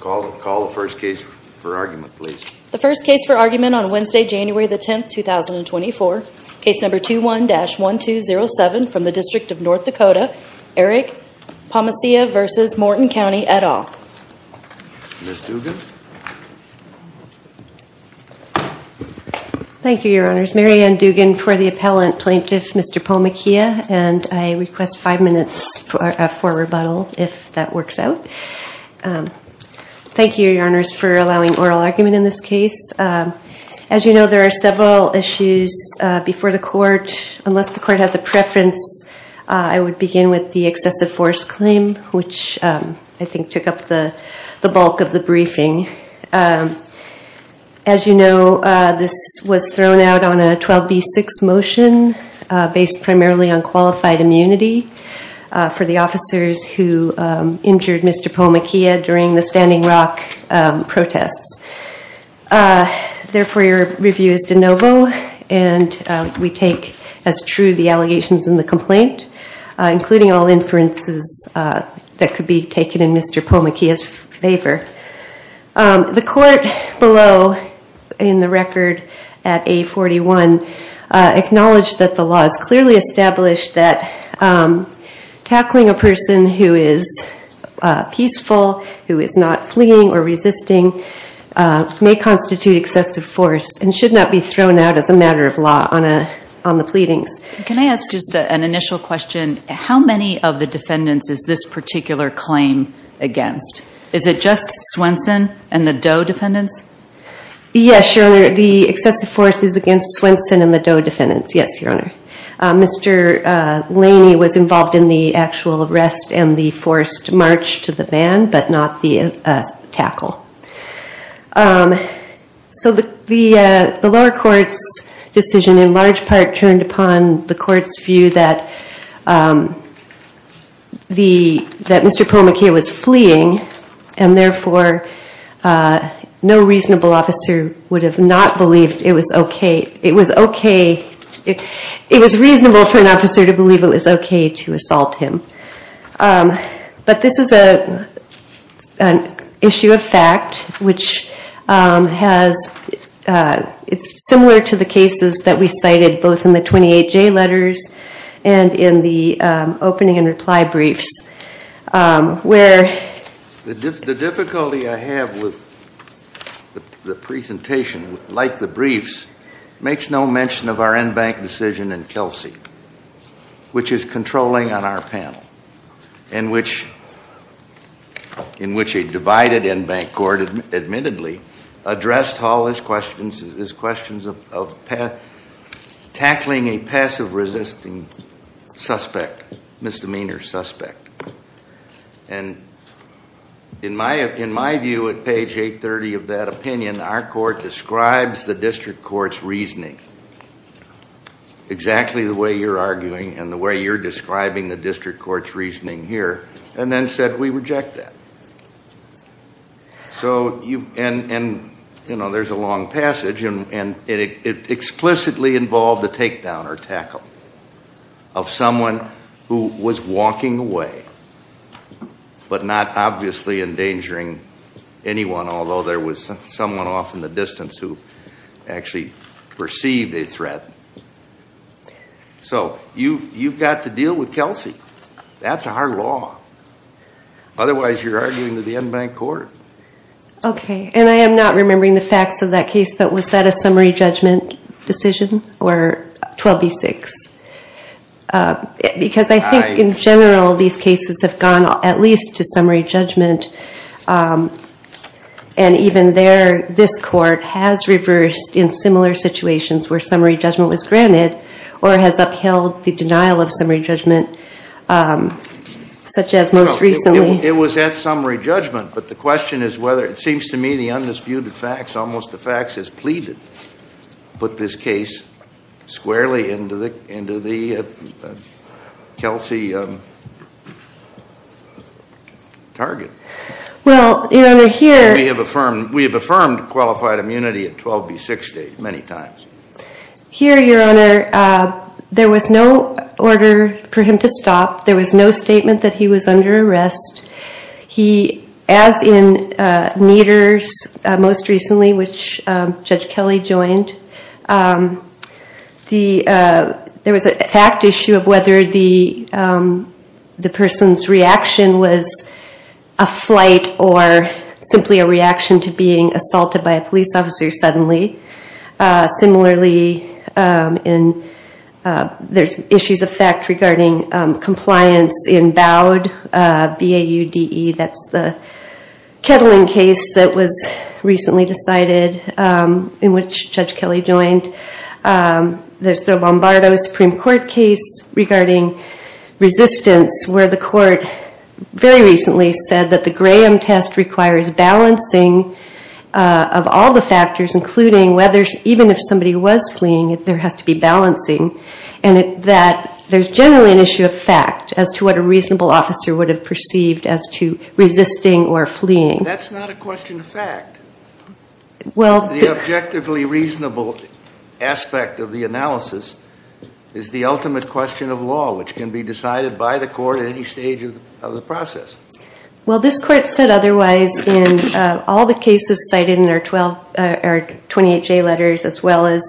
Call the first case for argument, please. The first case for argument on Wednesday, January the 10th, 2024, case number 21-1207 from the District of North Dakota, Eric Poemoceah v. Morton County, et al. Ms. Dugan. Thank you, Your Honors. Mary Ann Dugan for the appellant plaintiff, Mr. Poemoceah, and I request five minutes for a rebuttal if that works out. Thank you, Your Honors, for allowing oral argument in this case. As you know, there are several issues before the court. Unless the court has a preference, I would begin with the excessive force claim, which I think took up the bulk of the briefing. As you know, this was thrown out on a 12b-6 motion based primarily on qualified immunity for the officers who injured Mr. Poemoceah during the Standing Rock protests. Therefore, your review is de novo, and we take as true the allegations in the complaint, including all inferences that could be taken in Mr. Poemoceah's favor. The court below in the record at A-41 acknowledged that the law has clearly established that tackling a person who is peaceful, who is not fleeing or resisting, may constitute excessive force and should not be thrown out as a matter of law on the pleadings. Can I ask just an initial question? How many of the defendants is this particular claim against? Is it just Swenson and the Doe defendants? Yes, Your Honor. The excessive force is against Swenson and the Doe defendants, yes, Your Honor. Mr. Laney was involved in the actual arrest and the forced march to the van, but not the tackle. So the lower court's decision in large part turned upon the court's view that Mr. Poemoceah was fleeing, and therefore no reasonable officer would have not believed it was okay, it was okay, it was reasonable for an officer to believe it was okay to assault him. But this is an issue of fact, which has, it's similar to the cases that we cited both in the 28J letters and in the opening and reply briefs, where The difficulty I have with the presentation, like the briefs, makes no mention of our en banc decision in Kelsey, which is controlling on our panel, in which a divided en banc court admittedly addressed all its questions of tackling a passive resisting suspect, misdemeanor suspect. And in my view at page 830 of that opinion, our court describes the district court's reasoning exactly the way you're arguing and the way you're describing the district court's reasoning here, and then said we reject that. And there's a long passage, and it explicitly involved the takedown or tackle of someone who was walking away, but not obviously endangering anyone, although there was someone off in the distance who actually perceived a threat. So you've got to deal with Kelsey. That's our law. Otherwise you're arguing to the en banc court. Okay, and I am not remembering the facts of that case, but was that a summary judgment decision, or 12B6? Because I think in general these cases have gone at least to summary judgment, and even there this court has reversed in similar situations where summary judgment was granted, or has upheld the denial of summary judgment, such as most recently. It was at summary judgment, but the question is whether it seems to me the undisputed facts, almost the facts as pleaded, put this case squarely into the Kelsey target. Well, Your Honor, here... We have affirmed qualified immunity at 12B6 stage many times. Here, Your Honor, there was no order for him to stop. There was no statement that he was under arrest. He, as in Nieder's most recently, which Judge Kelly joined, there was a fact issue of whether the person's reaction was a flight or simply a reaction to being assaulted by a police officer suddenly. Similarly, there's issues of fact regarding compliance in BAUD, B-A-U-D-E. That's the Kettling case that was recently decided, in which Judge Kelly joined. There's the Lombardo Supreme Court case regarding resistance, where the court very recently said that the Graham test requires balancing of all the factors, including whether, even if somebody was fleeing, there has to be balancing. And that there's generally an issue of fact as to what a reasonable officer would have perceived as to resisting or fleeing. That's not a question of fact. Well... The objectively reasonable aspect of the analysis is the ultimate question of law, which can be decided by the court at any stage of the process. Well, this court said otherwise in all the cases cited in our 28J letters, as well as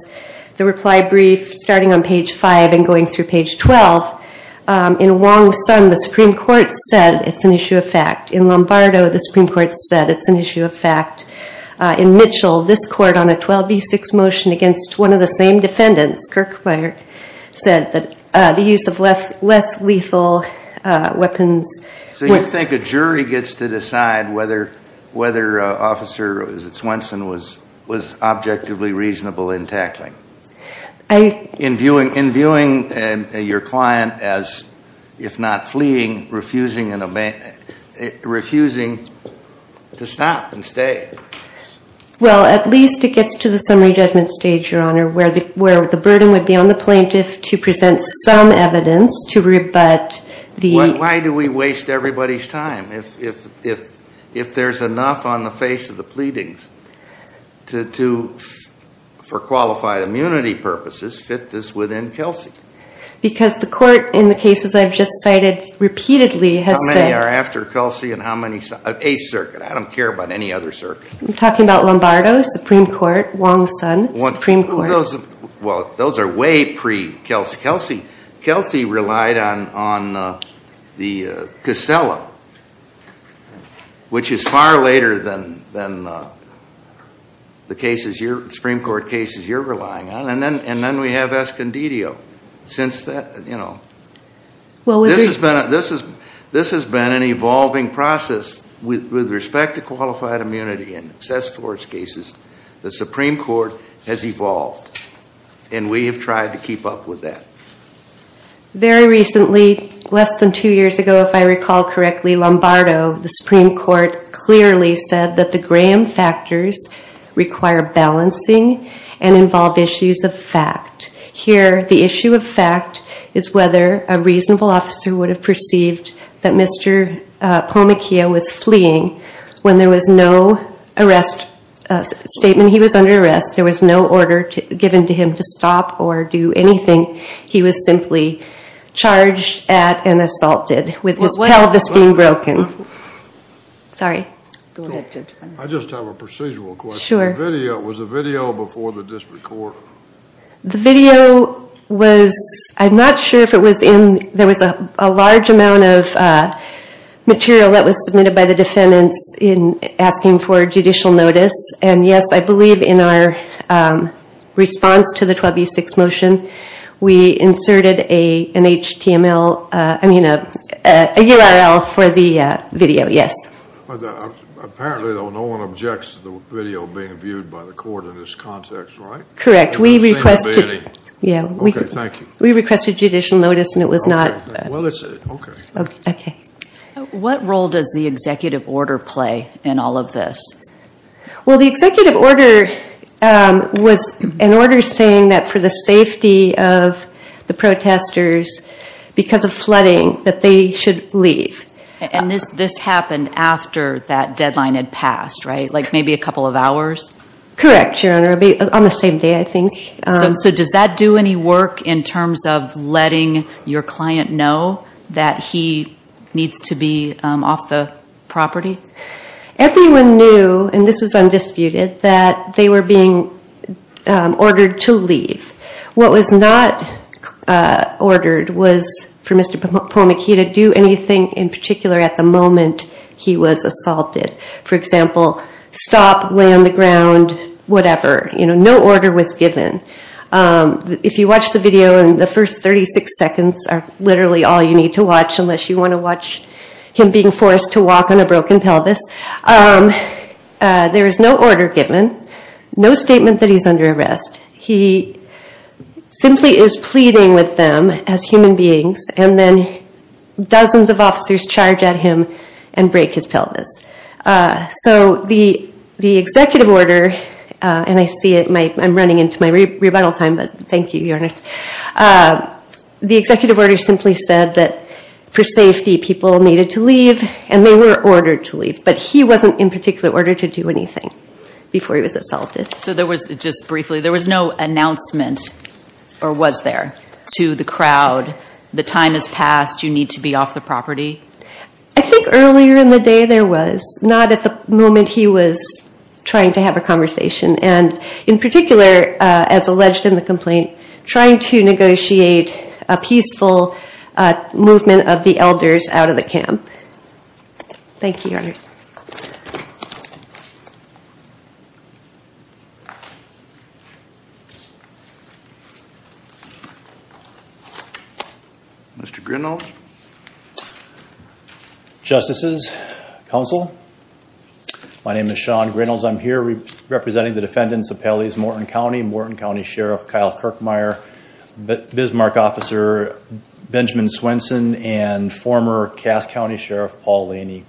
the reply brief starting on page 5 and going through page 12. In Wong's son, the Supreme Court said it's an issue of fact. In Lombardo, the Supreme Court said it's an issue of fact. In Mitchell, this court, on a 12B6 motion against one of the same defendants, Kirkmeyer, said that the use of less lethal weapons... So you think a jury gets to decide whether Officer Swenson was objectively reasonable in tackling? In viewing your client as, if not fleeing, refusing to stop and stay? Well, at least it gets to the summary judgment stage, Your Honor, where the burden would be on the plaintiff to present some evidence to rebut the... Why do we waste everybody's time if there's enough on the face of the pleadings to, for qualified immunity purposes, fit this within Kelsey? Because the court in the cases I've just cited repeatedly has said... How many are after Kelsey and how many... A circuit. I don't care about any other circuit. I'm talking about Lombardo, Supreme Court, Wong's son, Supreme Court. Those are way pre-Kelsey. Kelsey relied on the Casella, which is far later than the Supreme Court cases you're relying on. And then we have Escondido. This has been an evolving process with respect to qualified immunity and access for its cases. The Supreme Court has evolved, and we have tried to keep up with that. Very recently, less than two years ago, if I recall correctly, Lombardo, the Supreme Court, clearly said that the Graham factors require balancing and involve issues of fact. Here, the issue of fact is whether a reasonable officer would have perceived that Mr. Pomachia was fleeing when there was no statement he was under arrest. There was no order given to him to stop or do anything. He was simply charged at and assaulted with his pelvis being broken. Sorry. I just have a procedural question. Sure. Was the video before the district court? The video was, I'm not sure if it was in, there was a large amount of material that was submitted by the defendants in asking for judicial notice. And yes, I believe in our response to the 12e6 motion, we inserted a URL for the video, yes. Apparently, though, no one objects to the video being viewed by the court in this context, right? Correct. We requested. Okay, thank you. We requested judicial notice and it was not. Well, okay. Okay. What role does the executive order play in all of this? Well, the executive order was an order saying that for the safety of the protesters, because of flooding, that they should leave. Like maybe a couple of hours? Correct, Your Honor. On the same day, I think. So does that do any work in terms of letting your client know that he needs to be off the property? Everyone knew, and this is undisputed, that they were being ordered to leave. What was not ordered was for Mr. Pomekey to do anything in particular at the moment he was assaulted. For example, stop, lay on the ground, whatever. No order was given. If you watch the video, the first 36 seconds are literally all you need to watch unless you want to watch him being forced to walk on a broken pelvis. There is no order given, no statement that he's under arrest. He simply is pleading with them as human beings, and then dozens of officers charge at him and break his pelvis. So the executive order, and I see I'm running into my rebuttal time, but thank you, Your Honor. The executive order simply said that for safety, people needed to leave, and they were ordered to leave. But he wasn't in particular order to do anything before he was assaulted. So there was, just briefly, there was no announcement, or was there, to the crowd, the time has passed, you need to be off the property? I think earlier in the day there was, not at the moment he was trying to have a conversation, and in particular, as alleged in the complaint, trying to negotiate a peaceful movement of the elders out of the camp. Thank you, Your Honor. Mr. Grinnells? Justices, Counsel, my name is Sean Grinnells. I'm here representing the defendants of Pelley's Morton County, Morton County Sheriff Kyle Kirkmeyer, Bismarck Officer Benjamin Swenson, and former Cass County Sheriff Paul Laney.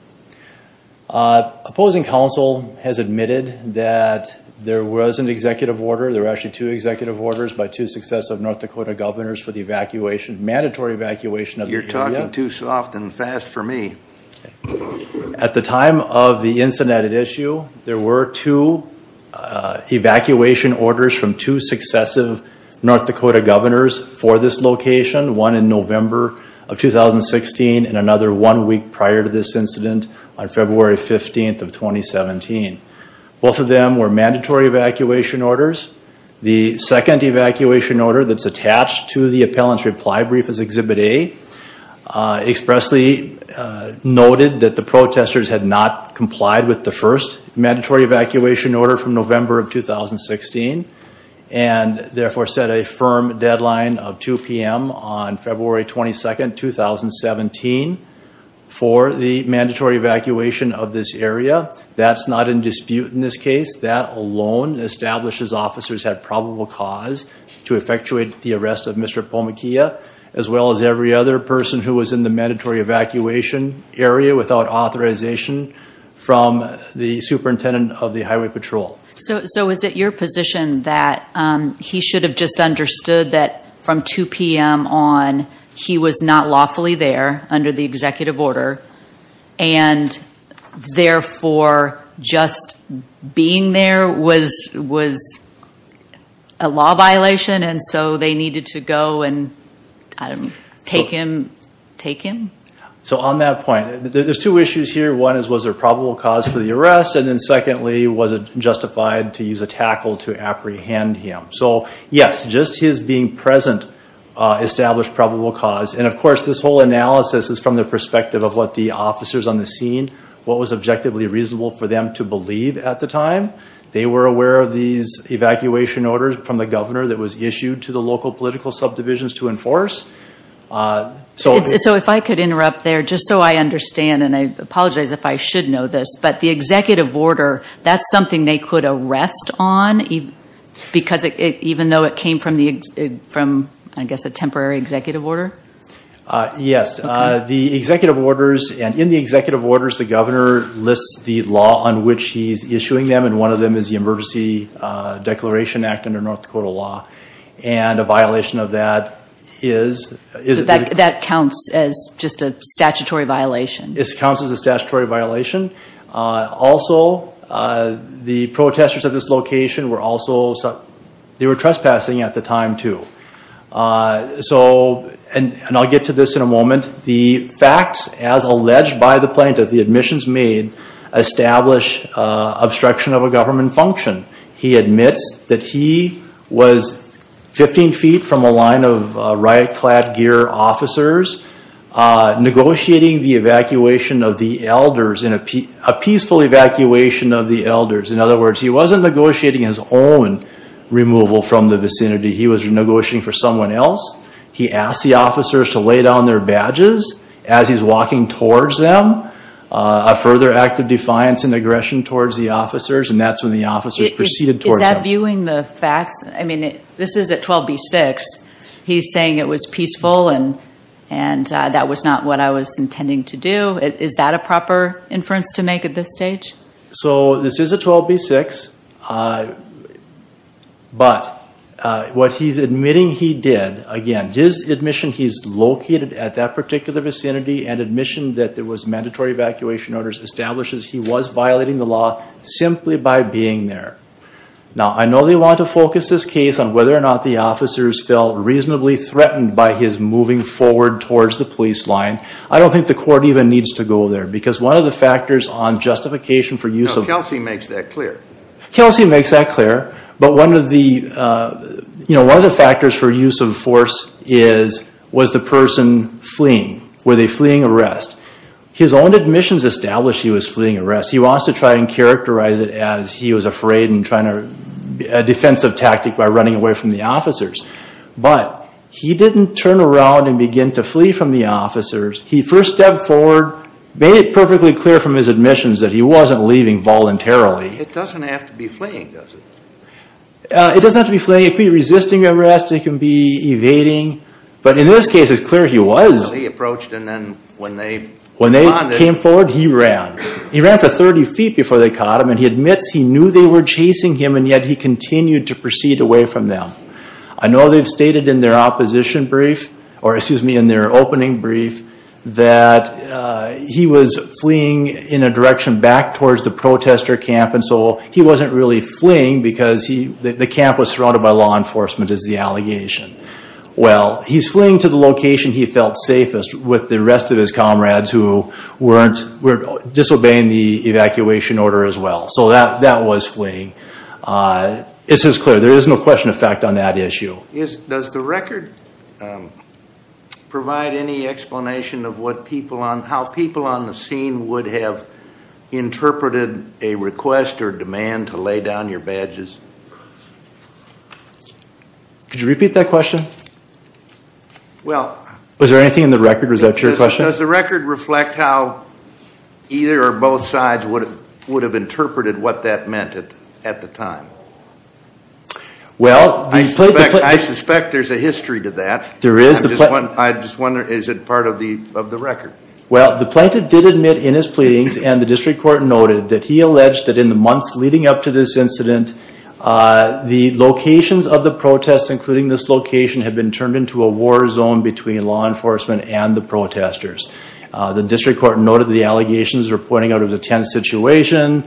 Opposing counsel has admitted that there was an executive order, there were actually two executive orders by two successive North Dakota governors for the evacuation, mandatory evacuation of the area. You're talking too soft and fast for me. At the time of the incident at issue, there were two evacuation orders from two successive North Dakota governors for this location, one in November of 2016, and another one week prior to this incident on February 15th of 2017. Both of them were mandatory evacuation orders. The second evacuation order that's attached to the appellant's reply brief is Exhibit A. Expressly noted that the protesters had not complied with the first mandatory evacuation order from November of 2016, and therefore set a firm deadline of 2 p.m. on February 22nd, 2017 for the mandatory evacuation of this area. That's not in dispute in this case. That alone establishes officers had probable cause to effectuate the arrest of Mr. Pomakea, as well as every other person who was in the mandatory evacuation area without authorization from the superintendent of the Highway Patrol. So is it your position that he should have just understood that from 2 p.m. on, he was not lawfully there under the executive order, and therefore just being there was a law violation, and so they needed to go and take him? So on that point, there's two issues here. One is, was there probable cause for the arrest? And then secondly, was it justified to use a tackle to apprehend him? So yes, just his being present established probable cause. And of course, this whole analysis is from the perspective of what the officers on the scene, what was objectively reasonable for them to believe at the time. They were aware of these evacuation orders from the governor that was issued to the local political subdivisions to enforce. So if I could interrupt there, just so I understand, and I apologize if I should know this, but the executive order, that's something they could arrest on, even though it came from, I guess, a temporary executive order? Yes. The executive orders, and in the executive orders, the governor lists the law on which he's issuing them, and one of them is the Emergency Declaration Act under North Dakota law. And a violation of that is? So that counts as just a statutory violation? It counts as a statutory violation. Also, the protesters at this location were also, they were trespassing at the time too. So, and I'll get to this in a moment, the facts as alleged by the plaintiff, the admissions made, establish obstruction of a government function. He admits that he was 15 feet from a line of riot-clad gear officers negotiating the evacuation of the elders, a peaceful evacuation of the elders. In other words, he wasn't negotiating his own removal from the vicinity. He was negotiating for someone else. He asked the officers to lay down their badges as he's walking towards them, a further act of defiance and aggression towards the officers, and that's when the officers proceeded towards him. Is that viewing the facts? I mean, this is at 12B-6. He's saying it was peaceful and that was not what I was intending to do. Is that a proper inference to make at this stage? So this is at 12B-6, but what he's admitting he did, again, his admission he's located at that particular vicinity and admission that there was mandatory evacuation orders establishes he was violating the law simply by being there. Now, I know they want to focus this case on whether or not the officers felt reasonably threatened by his moving forward towards the police line. I don't think the court even needs to go there because one of the factors on justification for use of force Now, Kelsey makes that clear. Kelsey makes that clear. But one of the factors for use of force was the person fleeing, with a fleeing arrest. His own admissions establish he was fleeing arrest. He wants to try and characterize it as he was afraid and trying to be a defensive tactic by running away from the officers. But he didn't turn around and begin to flee from the officers. He first stepped forward, made it perfectly clear from his admissions that he wasn't leaving voluntarily. It doesn't have to be fleeing, does it? It doesn't have to be fleeing. It can be resisting arrest. It can be evading. But in this case, it's clear he was. He approached and then when they responded. When they came forward, he ran. He ran for 30 feet before they caught him, and he admits he knew they were chasing him, and yet he continued to proceed away from them. I know they've stated in their opposition brief, or excuse me, in their opening brief, that he was fleeing in a direction back towards the protester camp, and so he wasn't really fleeing because the camp was surrounded by law enforcement, is the allegation. Well, he's fleeing to the location he felt safest with the rest of his comrades who were disobeying the evacuation order as well. So that was fleeing. This is clear. There is no question of fact on that issue. Does the record provide any explanation of how people on the scene would have interpreted a request or demand to lay down your badges? Could you repeat that question? Was there anything in the record? Was that your question? Does the record reflect how either or both sides would have interpreted what that meant at the time? Well, I suspect there's a history to that. There is. I just wonder, is it part of the record? Well, the plaintiff did admit in his pleadings, and the district court noted that he alleged that in the months leading up to this incident, the locations of the protests, including this location, had been turned into a war zone between law enforcement and the protesters. The district court noted the allegations were pointing out a tense situation.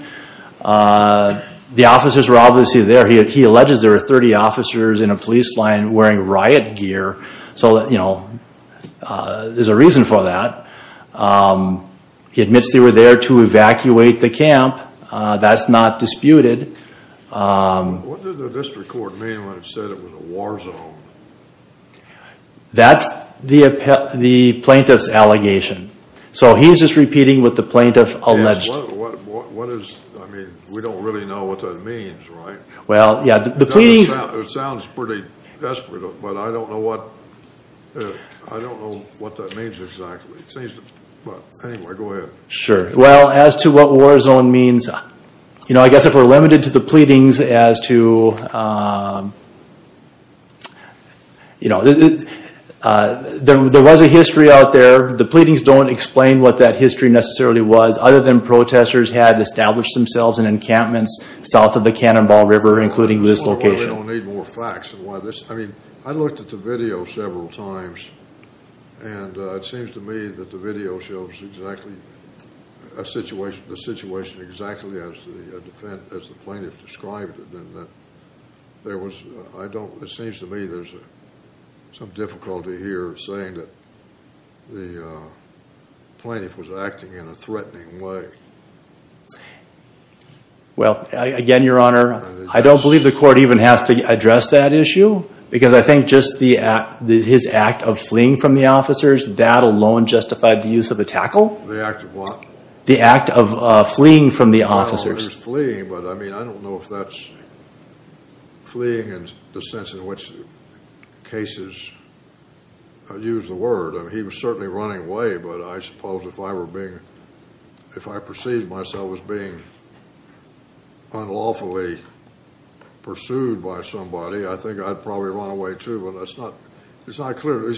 The officers were obviously there. He alleges there were 30 officers in a police line wearing riot gear. So, you know, there's a reason for that. He admits they were there to evacuate the camp. That's not disputed. What did the district court mean when it said it was a war zone? That's the plaintiff's allegation. So he's just repeating what the plaintiff alleged. I mean, we don't really know what that means, right? Well, yeah. It sounds pretty desperate, but I don't know what that means exactly. But anyway, go ahead. Sure. Well, as to what war zone means, you know, I guess if we're limited to the pleadings as to, you know, there was a history out there. The pleadings don't explain what that history necessarily was, other than protesters had established themselves in encampments south of the Cannonball River, including this location. We don't need more facts. I mean, I looked at the video several times, and it seems to me that the video shows exactly the situation exactly as the plaintiff described it. It seems to me there's some difficulty here saying that the plaintiff was acting in a threatening way. Well, again, Your Honor, I don't believe the court even has to address that issue, because I think just his act of fleeing from the officers, that alone justified the use of a tackle. The act of what? The act of fleeing from the officers. The act of fleeing, but, I mean, I don't know if that's fleeing in the sense in which cases use the word. I mean, he was certainly running away, but I suppose if I were being, if I perceived myself as being unlawfully pursued by somebody, I think I'd probably run away too. But it's not clear.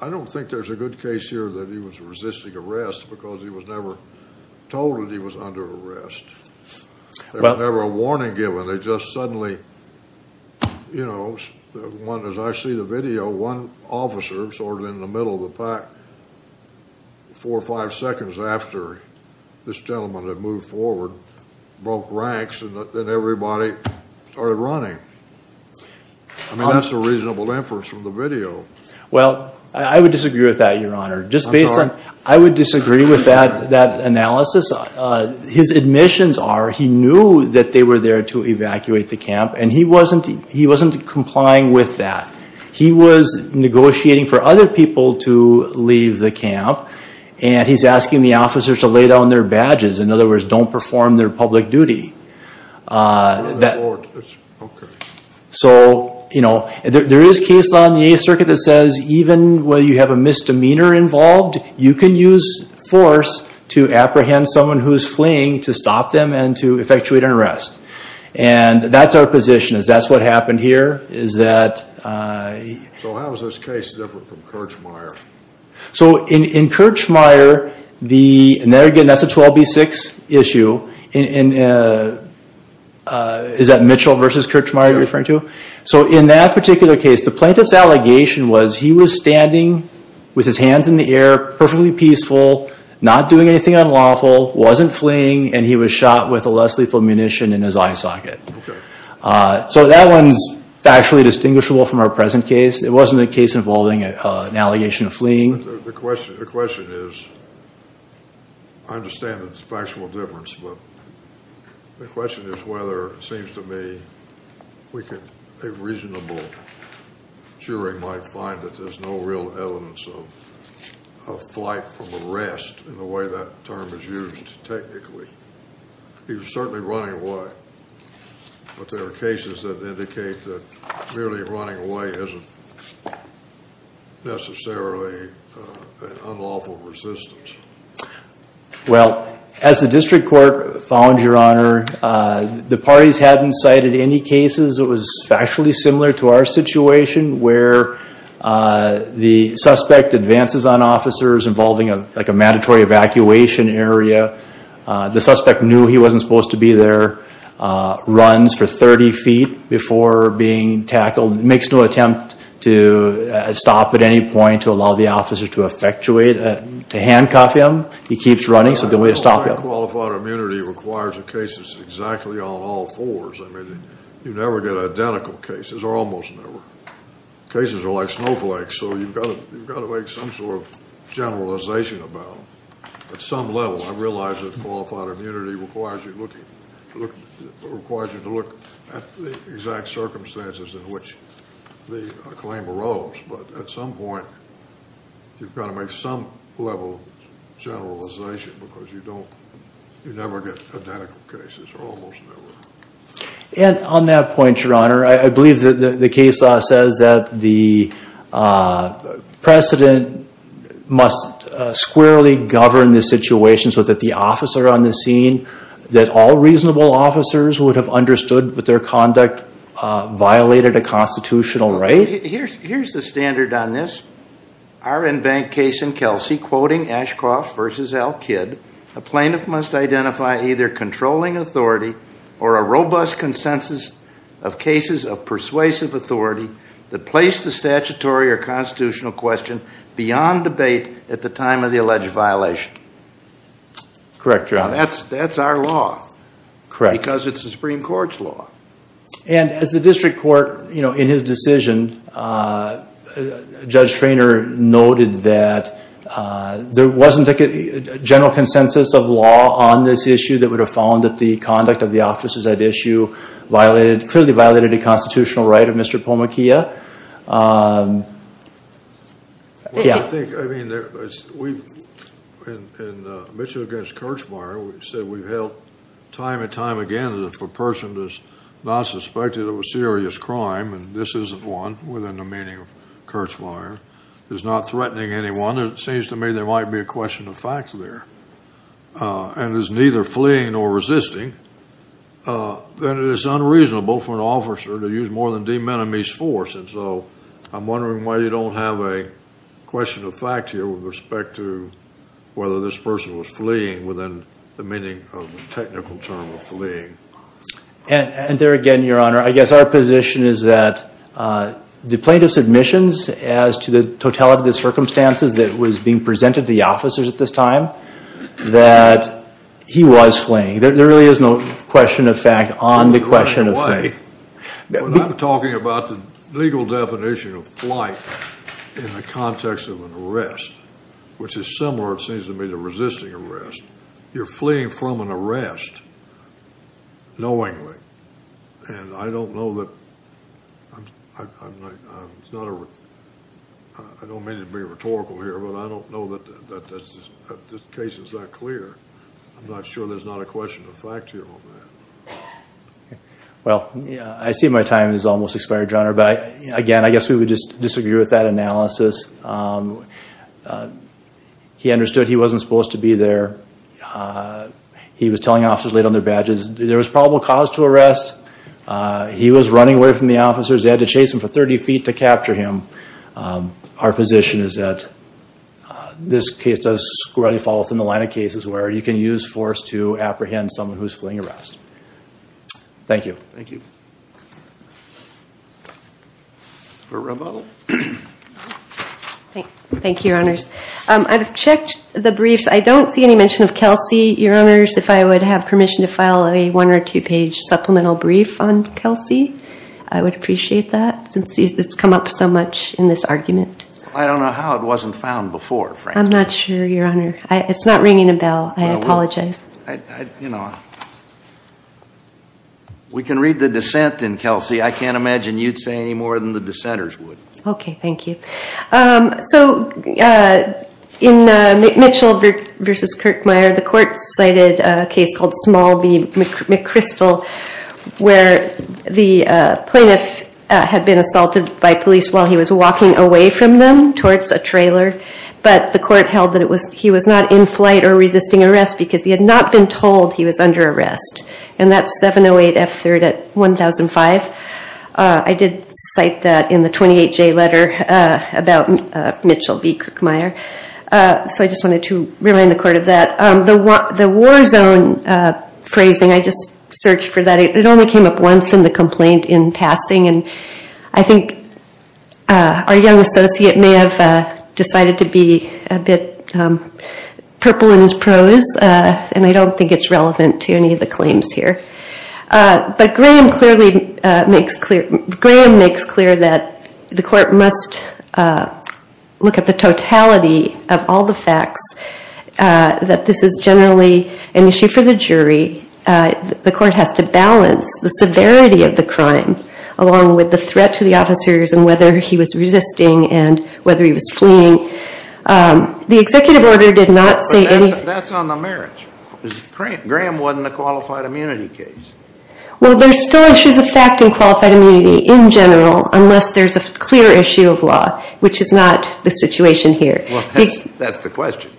I don't think there's a good case here that he was resisting arrest because he was never told that he was under arrest. There was never a warning given. They just suddenly, you know, one, as I see the video, one officer sort of in the middle of the pack, four or five seconds after this gentleman had moved forward, broke ranks, and then everybody started running. I mean, that's a reasonable inference from the video. Well, I would disagree with that, Your Honor. I'm sorry? Just based on, I would disagree with that analysis. His admissions are he knew that they were there to evacuate the camp, and he wasn't complying with that. He was negotiating for other people to leave the camp, and he's asking the officers to lay down their badges. In other words, don't perform their public duty. Oh, the board, okay. So, you know, there is case law in the Eighth Circuit that says even when you have a misdemeanor involved, you can use force to apprehend someone who's fleeing to stop them and to effectuate an arrest. And that's our position, is that's what happened here, is that... So how is this case different from Kirchmeier? So in Kirchmeier, and again, that's a 12B6 issue. Is that Mitchell versus Kirchmeier you're referring to? Yeah. So in that particular case, the plaintiff's allegation was he was standing with his hands in the air, perfectly peaceful, not doing anything unlawful, wasn't fleeing, and he was shot with a less lethal munition in his eye socket. Okay. So that one's factually distinguishable from our present case. It wasn't a case involving an allegation of fleeing. The question is, I understand it's a factual difference, but the question is whether it seems to me a reasonable jury might find that there's no real evidence of flight from arrest in the way that term is used technically. He was certainly running away, but there are cases that indicate that merely running away isn't necessarily an unlawful resistance. Well, as the district court found, Your Honor, the parties hadn't cited any cases. It was factually similar to our situation where the suspect advances on officers involving like a mandatory evacuation area. The suspect knew he wasn't supposed to be there, runs for 30 feet before being tackled, makes no attempt to stop at any point to allow the officer to effectuate, to handcuff him. He keeps running, so there's no way to stop him. Qualified immunity requires a case that's exactly on all fours. I mean, you never get identical cases, or almost never. Cases are like snowflakes, so you've got to make some sort of generalization about them. At some level, I realize that qualified immunity requires you to look at the exact circumstances in which the claim arose, but at some point, you've got to make some level of generalization because you never get identical cases, or almost never. And on that point, Your Honor, I believe that the case law says that the precedent must squarely govern the situation so that the officer on the scene, that all reasonable officers would have understood that their conduct violated a constitutional right? Here's the standard on this. Our in-bank case in Kelsey, quoting Ashcroft v. L. Kidd, a plaintiff must identify either controlling authority or a robust consensus of cases of persuasive authority that place the statutory or constitutional question beyond debate at the time of the alleged violation. Correct, Your Honor. Now, that's our law. Correct. Because it's the Supreme Court's law. And as the district court, in his decision, Judge Treanor noted that there wasn't a general consensus of law on this issue that would have found that the conduct of the officers at issue clearly violated a constitutional right of Mr. Pomakea. Yeah. I think, I mean, we've, in Mitchell v. Kirchmeier, we've said we've held time and time again that if a person is not suspected of a serious crime, and this isn't one, within the meaning of Kirchmeier, is not threatening anyone, it seems to me there might be a question of fact there, and is neither fleeing nor resisting, then it is unreasonable for an officer to use more than de minimis force. And so I'm wondering why you don't have a question of fact here with respect to whether this person was fleeing within the meaning of the technical term of fleeing. And there again, Your Honor, I guess our position is that the plaintiff's admissions as to the totality of the circumstances that was being presented to the officers at this time, that he was fleeing. There really is no question of fact on the question of fleeing. I'm talking about the legal definition of flight in the context of an arrest, which is similar, it seems to me, to resisting arrest. You're fleeing from an arrest knowingly. And I don't know that, I don't mean to be rhetorical here, but I don't know that this case is that clear. I'm not sure there's not a question of fact here on that. Well, I see my time has almost expired, Your Honor. But again, I guess we would just disagree with that analysis. He understood he wasn't supposed to be there. He was telling officers late on their badges there was probable cause to arrest. He was running away from the officers. They had to chase him for 30 feet to capture him. Our position is that this case does squarely fall within the line of cases where you can use force to apprehend someone who's fleeing arrest. Thank you. Thank you, Your Honors. I've checked the briefs. I don't see any mention of Kelsey. Your Honors, if I would have permission to file a one- or two-page supplemental brief on Kelsey, I would appreciate that since it's come up so much in this argument. I don't know how it wasn't found before, frankly. I'm not sure, Your Honor. It's not ringing a bell. I apologize. We can read the dissent in Kelsey. I can't imagine you'd say any more than the dissenters would. Okay, thank you. So in Mitchell v. Kirkmeyer, the court cited a case called Small v. McChrystal where the plaintiff had been assaulted by police while he was walking away from them towards a trailer. But the court held that he was not in flight or resisting arrest because he had not been told he was under arrest. And that's 708 F. 3rd at 1005. I did cite that in the 28-J letter about Mitchell v. Kirkmeyer. So I just wanted to remind the court of that. The war zone phrasing, I just searched for that. It only came up once in the complaint in passing. And I think our young associate may have decided to be a bit purple in his prose. And I don't think it's relevant to any of the claims here. But Graham makes clear that the court must look at the totality of all the facts, that this is generally an issue for the jury. The court has to balance the severity of the crime along with the threat to the officers and whether he was resisting and whether he was fleeing. The executive order did not say anything. That's on the merits. Graham wasn't a qualified immunity case. Well, there's still issues of fact in qualified immunity in general unless there's a clear issue of law, which is not the situation here. That's the question.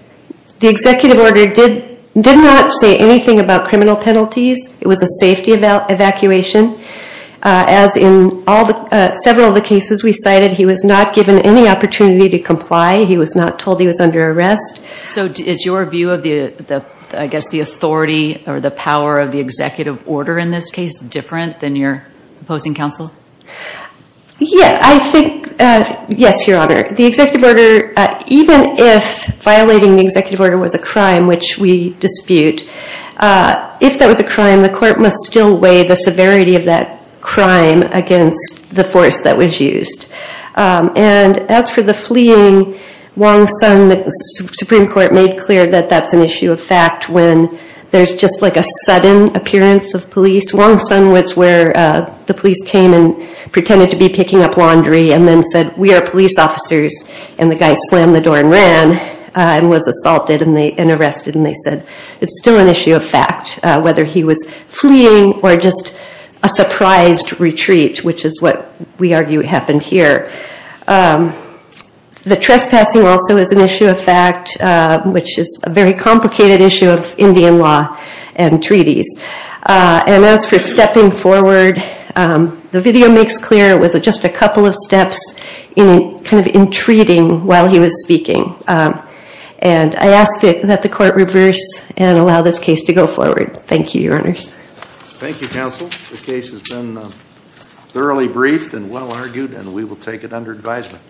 The executive order did not say anything about criminal penalties. It was a safety evacuation. As in several of the cases we cited, he was not given any opportunity to comply. He was not told he was under arrest. So is your view of the authority or the power of the executive order in this case different than your opposing counsel? Yes, Your Honor. The executive order, even if violating the executive order was a crime which we dispute, if that was a crime, the court must still weigh the severity of that crime against the force that was used. And as for the fleeing, Wong-Sun, the Supreme Court made clear that that's an issue of fact when there's just like a sudden appearance of police. Wong-Sun was where the police came and pretended to be picking up laundry and then said, we are police officers. And the guy slammed the door and ran and was assaulted and arrested. And they said it's still an issue of fact whether he was fleeing or just a surprised retreat, which is what we argue happened here. The trespassing also is an issue of fact, which is a very complicated issue of Indian law and treaties. And as for stepping forward, the video makes clear it was just a couple of steps in kind of entreating while he was speaking. And I ask that the court reverse and allow this case to go forward. Thank you, Your Honors. Thank you, counsel. The case has been thoroughly briefed and well argued, and we will take it under advisement.